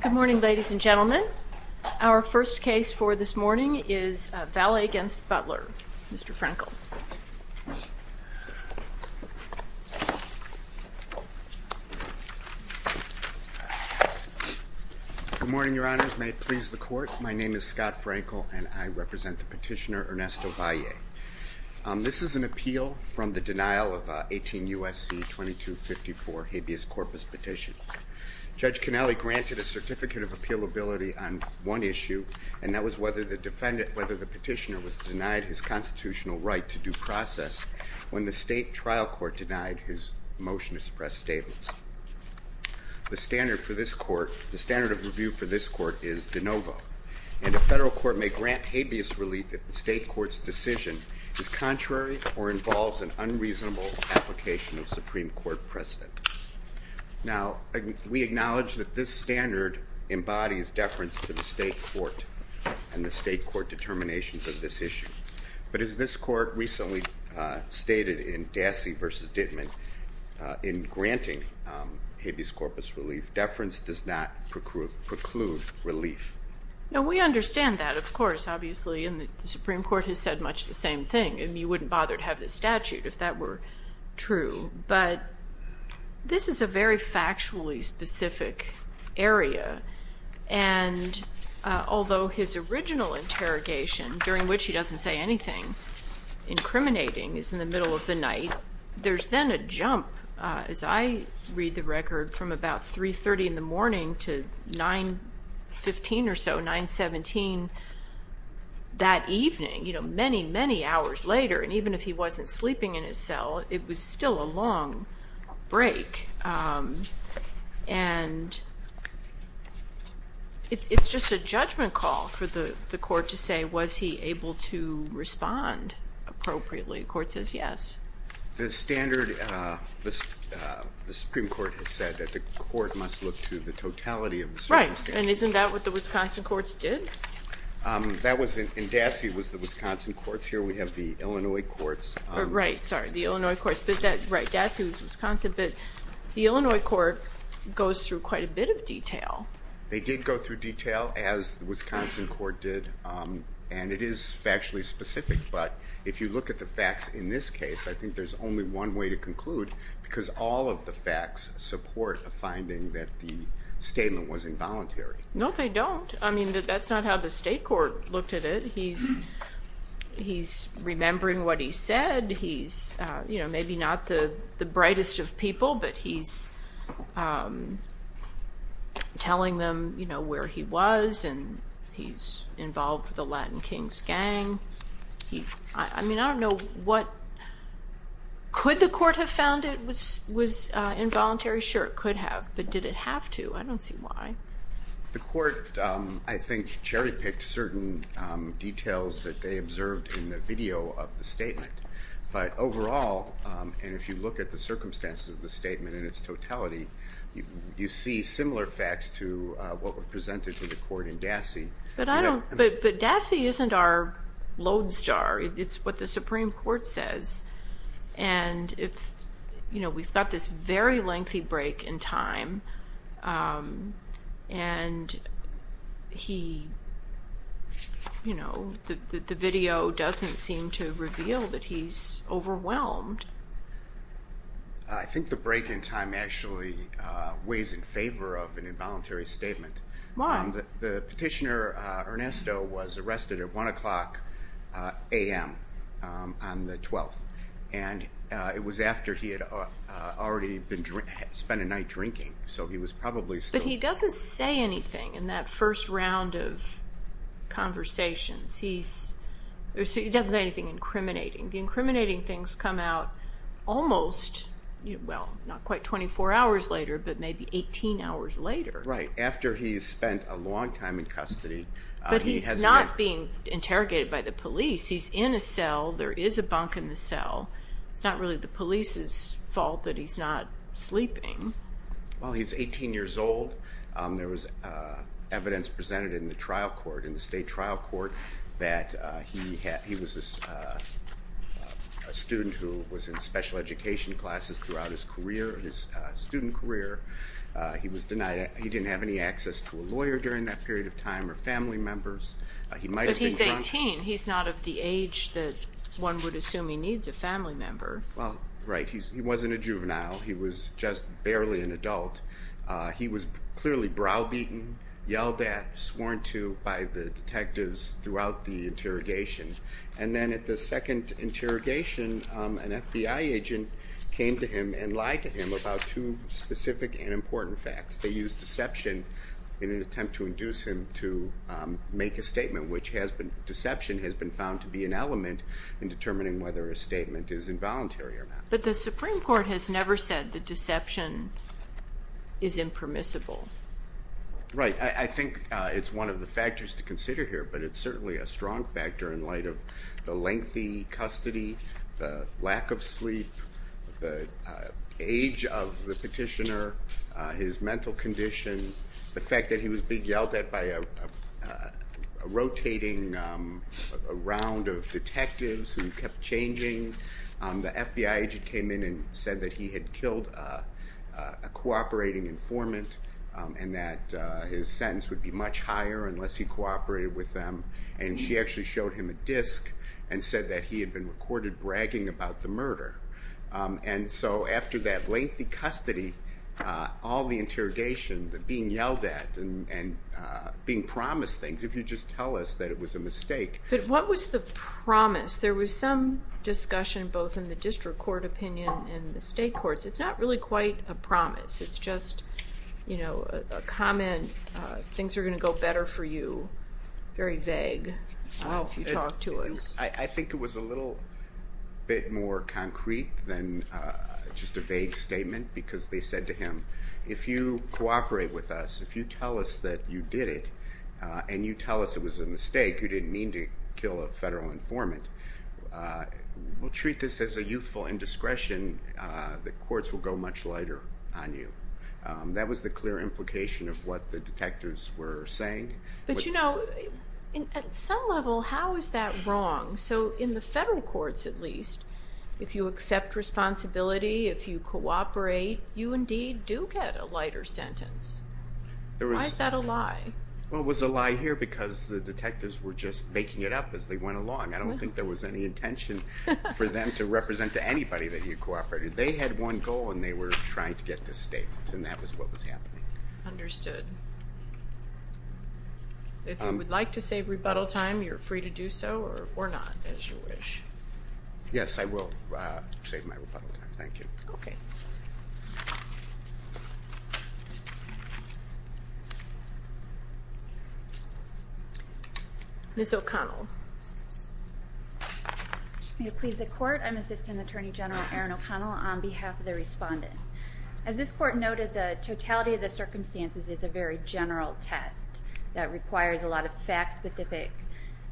Good morning, ladies and gentlemen. Our first case for this morning is Valle against Butler. Mr. Frankel. Good morning, Your Honor. May it please the court, my name is Scott Frankel and I represent the petitioner Ernesto Valle. This is an appeal from the denial of 18 Judge Conelli granted a certificate of appealability on one issue and that was whether the petitioner was denied his constitutional right to due process when the state trial court denied his motion to suppress statements. The standard of review for this court is de novo and the federal court may grant habeas relief if the state court's decision is contrary or we acknowledge that this standard embodies deference to the state court and the state court determinations of this issue. But as this court recently stated in Dassey v. Dittman in granting habeas corpus relief, deference does not preclude relief. Now we understand that, of course, obviously, and the Supreme Court has said much the same thing and you wouldn't bother to have this statute if that were true, but this is a very factually specific area and although his original interrogation, during which he doesn't say anything incriminating, is in the middle of the night, there's then a jump, as I read the record, from about 3.30 in the morning to 9.15 or so, 9.17 that evening, you know, many, many hours later and even if he wasn't sleeping in his cell, it was still a long break and it's just a judgment call for the court to say was he able to respond appropriately. The court says yes. The standard, the Supreme Court has said that the court must look to the totality of the Supreme Standard. Right, and isn't that what the Wisconsin courts did? That was, in Dassey, was the Wisconsin courts. Here we have the Illinois courts. Right, sorry, the Illinois courts, but that, right, Dassey was Wisconsin, but the Illinois court goes through quite a bit of detail. They did go through detail, as the Wisconsin court did, and it is factually specific, but if you look at the facts in this case, I think there's only one way to conclude because all of the facts support a finding that the statement was involuntary. No, they don't. I mean, that's not how the state court looked at it. He's remembering what he said. He's, you know, maybe not the the brightest of people, but he's telling them, you know, where he was and he's involved with the Latin Kings gang. I mean, I don't know what, could the court have found it was involuntary? Sure, it could have, but did it have to? I don't see why. The court, I think, cherry-picked certain details that they observed in the video of the statement, but overall, and if you look at the circumstances of the statement in its totality, you see similar facts to what were presented to the court in Dassey. But I don't, but Dassey isn't our lodestar. It's what the Supreme Court says, and if, you know, we've got this very lengthy break in time and he, you know, the video doesn't seem to reveal that he's overwhelmed. I think the break in time actually weighs in favor of an involuntary statement. The petitioner Ernesto was arrested at 1 o'clock a.m. on the 12th, and it was after he had already spent a night drinking, so he was probably still... But he doesn't say anything in that first round of conversations. He doesn't say anything incriminating. The incriminating things come out almost, well, not quite 24 hours later, but maybe 18 hours later. Right, after he's spent a long time in But he's not being interrogated by the police. He's in a cell. There is a bunk in the cell. It's not really the police's fault that he's not sleeping. Well, he's 18 years old. There was evidence presented in the trial court, in the state trial court, that he was a student who was in special education classes throughout his career, his student career. He was denied, he didn't have any access to a lawyer during that period of time or family members. He might have been... But he's 18. He's not of the age that one would assume he needs a family member. Well, right. He wasn't a juvenile. He was just barely an adult. He was clearly browbeaten, yelled at, sworn to by the detectives throughout the interrogation, and then at the second interrogation, an FBI agent came to him and lied to him about two specific and important facts. They used deception in an attempt to induce him to make a statement, which has been, deception has been found to be an element in determining whether a statement is involuntary or not. But the Supreme Court has never said the deception is impermissible. Right, I think it's one of the factors to consider here, but it's certainly a strong factor in light of the lengthy custody, the lack of sleep, the age of the petitioner, his mental condition, the fact that he was being yelled at by a rotating round of detectives who kept changing. The FBI agent came in and said that he had killed a cooperating informant and that his sentence would be much higher unless he cooperated with them, and she actually showed him a disc and said that he had been recorded bragging about the murder. And so after that lengthy custody, all the interrogation, the being yelled at and being promised things, if you just tell us that it was a mistake. But what was the promise? There was some discussion both in the district court opinion and the state courts. It's not really quite a promise. It's just, you know, a comment, things are going to go better for you. Very vague, if you talk to us. I think it was a little bit more concrete than just a vague statement because they said to him, if you cooperate with us, if you tell us that you did it and you tell us it was a mistake, you didn't mean to kill a federal informant, we'll treat this as a youthful indiscretion. The courts will go much lighter on you. That was the clear implication of what the detectives were saying. But you know, at some level, how is that wrong? So in the federal courts, at least, if you accept responsibility, if you cooperate, you indeed do get a lighter sentence. Why is that a lie? Well, it was a lie here because the detectives were just making it up as they went along. I don't think there was any intention for them to represent to anybody that he had cooperated. They had one goal and they were trying to get this statement, and that was what was If you would like to save rebuttal time, you're free to do so, or not, as you wish. Yes, I will save my rebuttal time. Thank you. Okay. Ms. O'Connell. May it please the court, I'm Assistant Attorney General Erin O'Connell on behalf of the respondent. As this court noted, the totality of the requires a lot of fact-specific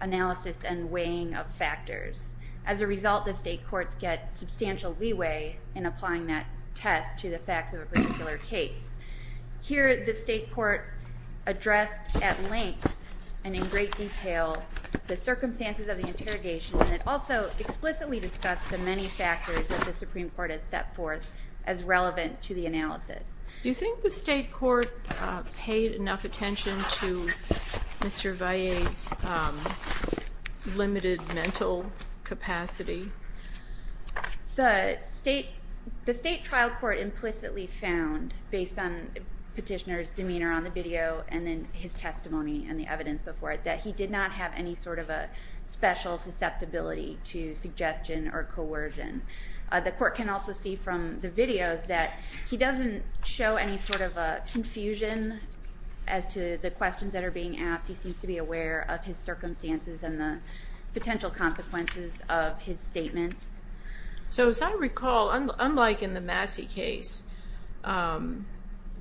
analysis and weighing of factors. As a result, the state courts get substantial leeway in applying that test to the facts of a particular case. Here, the state court addressed at length and in great detail the circumstances of the interrogation, and it also explicitly discussed the many factors that the Supreme Court has set forth as relevant to the analysis. Do you think the state court paid enough attention to Mr. Valle's limited mental capacity? The state trial court implicitly found, based on petitioner's demeanor on the video and then his testimony and the evidence before it, that he did not have any sort of a special susceptibility to suggestion or coercion. The court can also see from the videos that he doesn't show any sort of a confusion as to the questions that are being asked. He seems to be aware of his circumstances and the potential consequences of his statements. So as I recall, unlike in the Massey case,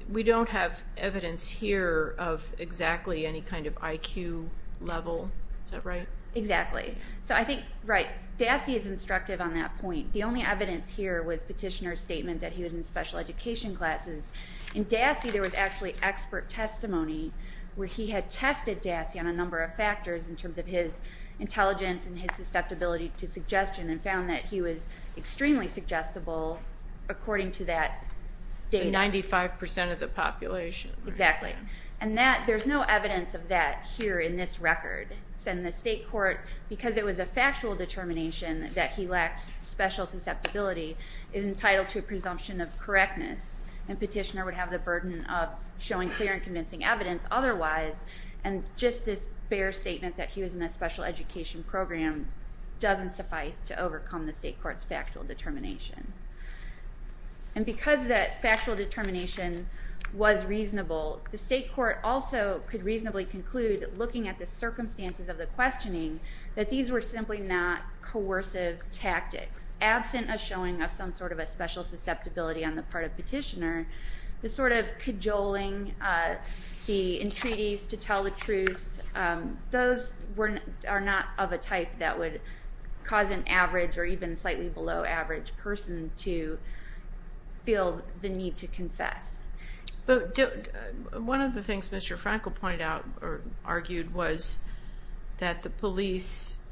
we don't have evidence here of exactly any kind of IQ level. Is that right? Exactly. So I think, right, Dassey is instructive on that point. The only evidence here was petitioner's statement that he was in special education classes. In Dassey, there was actually expert testimony where he had tested Dassey on a number of factors in terms of his intelligence and his susceptibility to suggestion and found that he was extremely suggestible according to that data. Ninety-five percent of the population. Exactly. And that, there's no evidence of that here in this record. And the state court, because it was a factual determination that he was entitled to a presumption of correctness and petitioner would have the burden of showing clear and convincing evidence otherwise, and just this bare statement that he was in a special education program doesn't suffice to overcome the state court's factual determination. And because that factual determination was reasonable, the state court also could reasonably conclude, looking at the circumstances of the questioning, that these were simply not coercive tactics absent a showing of some sort of a special susceptibility on the part of petitioner. The sort of cajoling, the entreaties to tell the truth, those are not of a type that would cause an average or even slightly below average person to feel the need to confess. But one of the things Mr. Frankel pointed out or argued was that the police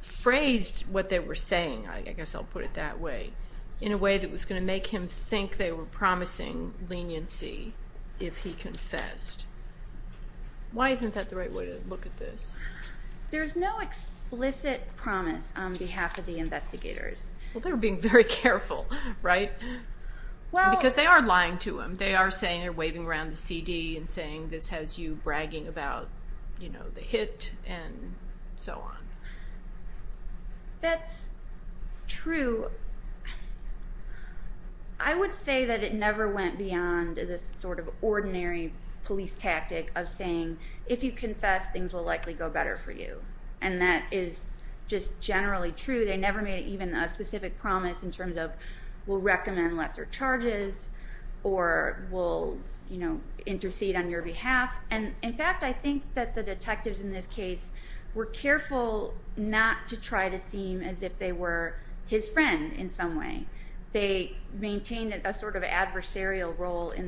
phrased what they were saying, I guess I'll put it that way, in a way that was going to make him think they were promising leniency if he confessed. Why isn't that the right way to look at this? There's no explicit promise on behalf of the investigators. Well, they were being very careful, right? Because they are lying to him. They are saying they're waving around the CD and saying this has you bragging about, you know, the hit and so on. That's true. I would say that it never went beyond this sort of ordinary police tactic of saying, if you confess, things will likely go better for you. And that is just generally true. They never made even a specific promise in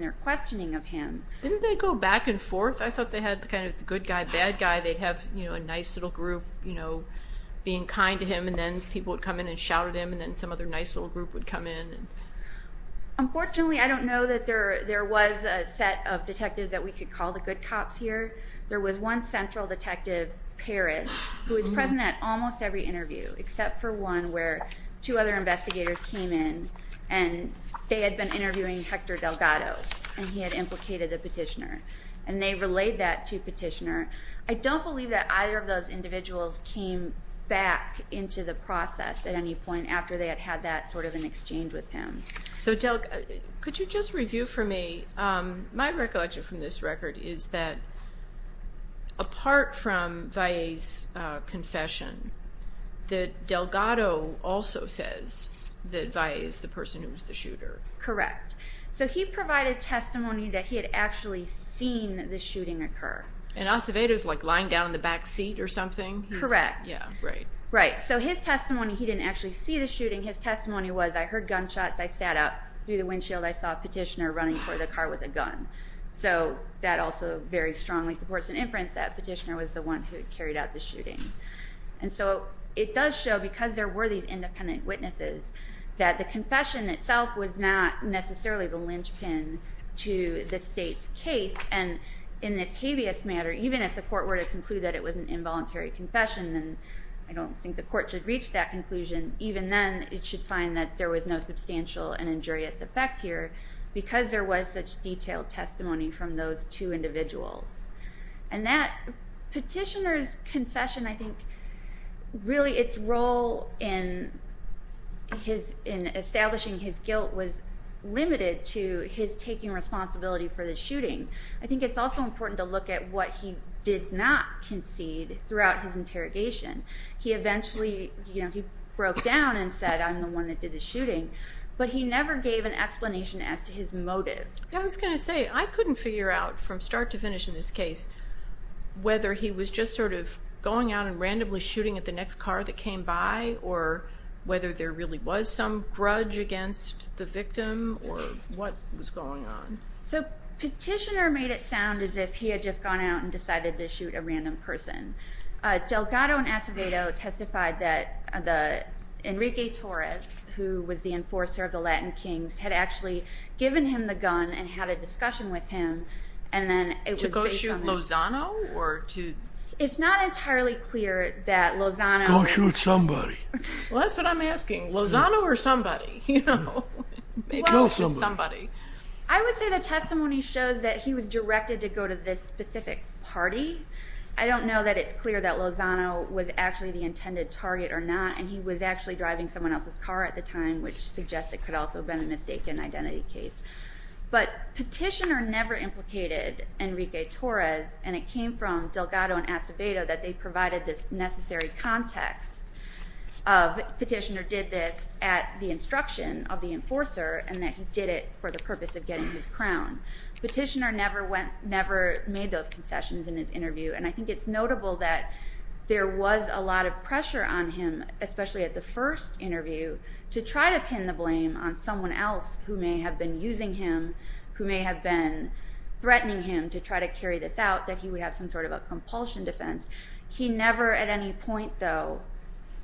their questioning of him. Didn't they go back and forth? I thought they had kind of the good guy, bad guy. They'd have a nice little group, you know, being kind to him and then people would come in and shout at him and then some other nice little group would come in. Unfortunately, I don't know that there there was a set of detectives that we could call the good cops here. There was one central detective, Parrish, who was present at almost every interview except for one where two other investigators came in and they had been interviewing Hector Delgado and he had implicated the petitioner. And they relayed that to petitioner. I don't believe that either of those individuals came back into the process at any point after they had had that sort of an exchange with him. So Del, could you just review for me, my recollection from this record is that apart from Valle's confession, that Delgado also says that Valle is the person who was the shooter. Correct. So he provided testimony that he had actually seen the shooting occur. And Acevedo is like lying down in the back seat or something? Correct. Yeah, right. Right. So his testimony, he didn't actually see the shooting. His testimony was, I heard gunshots. I sat up through the windshield. I saw a petitioner running toward the car with a gun. So that also very strongly supports an inference that petitioner was the one who carried out the shooting. And so it does show, because there were these independent witnesses, that the confession itself was not necessarily the linchpin to the state's case. And in this habeas matter, even if the court were to conclude that it was an involuntary confession, and I don't think the court should reach that conclusion, even then it should find that there was no substantial and injurious effect here, because there was such detailed testimony from those two individuals. And that petitioner's confession, I think, really its role in establishing his guilt was limited to his taking responsibility for the shooting. I think it's also important to look at what he did not concede throughout his interrogation. He eventually, you know, he broke down and said, I'm the one that did the shooting, but he never gave an explanation as to his motive. I was gonna say, I couldn't figure out from start to finish in this case whether he was just sort of going out and randomly shooting at the next car that came by, or whether there really was some grudge against the victim, or what was going on. So petitioner made it sound as if he had just gone out and decided to shoot a random person. Delgado and Acevedo testified that the Enrique Torres, who was the enforcer of the Latin Kings, had actually given him the gun and had a discussion with him, and then it was based on... To go shoot Lozano, or to... It's not entirely clear that Lozano... Go shoot somebody. Well, that's what I'm asking. Lozano or somebody, you know. Kill somebody. I would say the specific party. I don't know that it's clear that Lozano was actually the intended target or not, and he was actually driving someone else's car at the time, which suggests it could also have been a mistaken identity case. But petitioner never implicated Enrique Torres, and it came from Delgado and Acevedo that they provided this necessary context. Petitioner did this at the instruction of the enforcer, and that he did it for the purpose of making sure that he was not guilty of any crime. So, the question is, did the enforcer make those concessions in his interview? And I think it's notable that there was a lot of pressure on him, especially at the first interview, to try to pin the blame on someone else who may have been using him, who may have been threatening him to try to carry this out, that he would have some sort of a compulsion defense. He never at any point, though,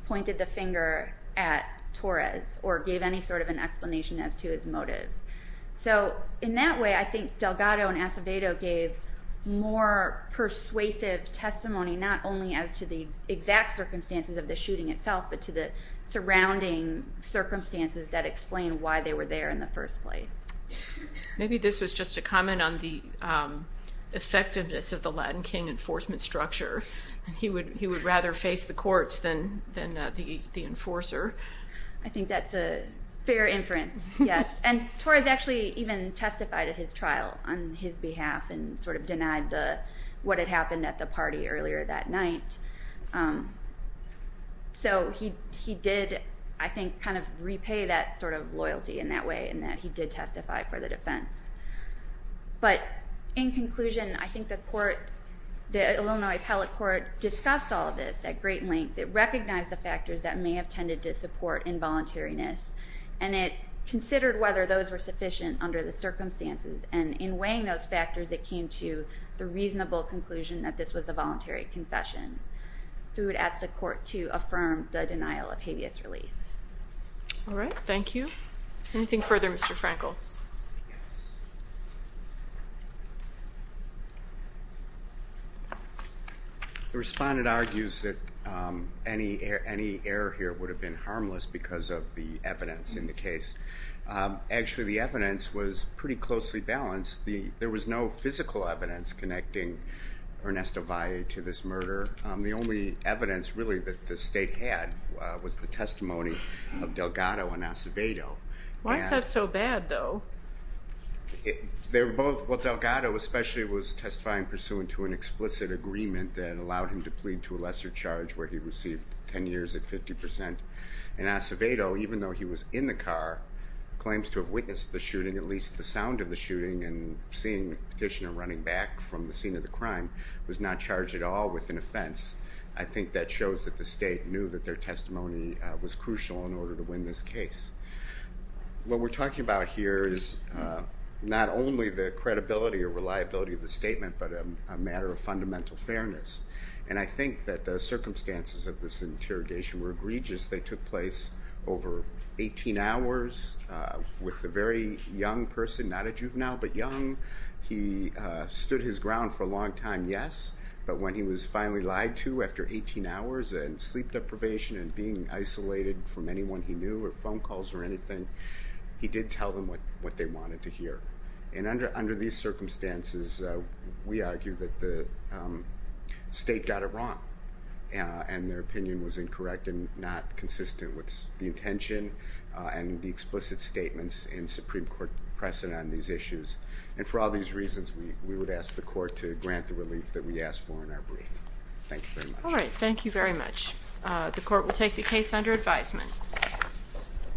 pointed the finger at Torres or gave any sort of an explanation as to his motive. So, in that way, I think Delgado and Acevedo gave more persuasive testimony, not only as to the exact circumstances of the shooting itself, but to the surrounding circumstances that explain why they were there in the first place. Maybe this was just a comment on the effectiveness of the Latin King enforcement structure. He would rather face the courts than the enforcer. I think that's a fair inference, yes. And Torres actually even testified at his trial on his behalf and sort of denied what had happened at the party earlier that night. So, he did, I think, kind of repay that sort of loyalty in that way, and that he did testify for the defense. But, in conclusion, I think the court, the Illinois Appellate Court, discussed all of this at great length. It recognized the factors that may have tended to support involuntariness, and it considered whether those were sufficient under the circumstances. And in weighing those factors, it came to the reasonable conclusion that this was a voluntary confession. So, we would ask the court to affirm the denial of habeas relief. All right, thank you. Anything further, Mr. Frankel? The respondent argues that any error here would have been harmless because of the evidence in the case. Actually, the evidence was pretty closely balanced. There was no physical evidence connecting Ernesto Valle to this of Delgado and Acevedo. Why is that so bad, though? They were both, well, Delgado especially was testifying pursuant to an explicit agreement that allowed him to plead to a lesser charge where he received 10 years at 50%. And Acevedo, even though he was in the car, claims to have witnessed the shooting, at least the sound of the shooting, and seeing Petitioner running back from the scene of the crime, was not charged at all with an offense. I think that shows that the question was, well, how do we get to a conclusion in order to win this case? What we're talking about here is not only the credibility or reliability of the statement, but a matter of fundamental fairness. And I think that the circumstances of this interrogation were egregious. They took place over 18 hours with a very young person, not a juvenile but young. He stood his ground for a long time, yes, but when he was finally lied to after 18 hours and sleep deprivation and being isolated from anyone he knew or phone calls or anything, he did tell them what they wanted to hear. And under these circumstances, we argue that the state got it wrong and their opinion was incorrect and not consistent with the intention and the explicit statements in Supreme Court precedent on these issues. And for all these reasons, we would ask the court to grant the relief that we asked for in our brief. Thank you very much. All right, thank you very much. The court will take the case under advisement.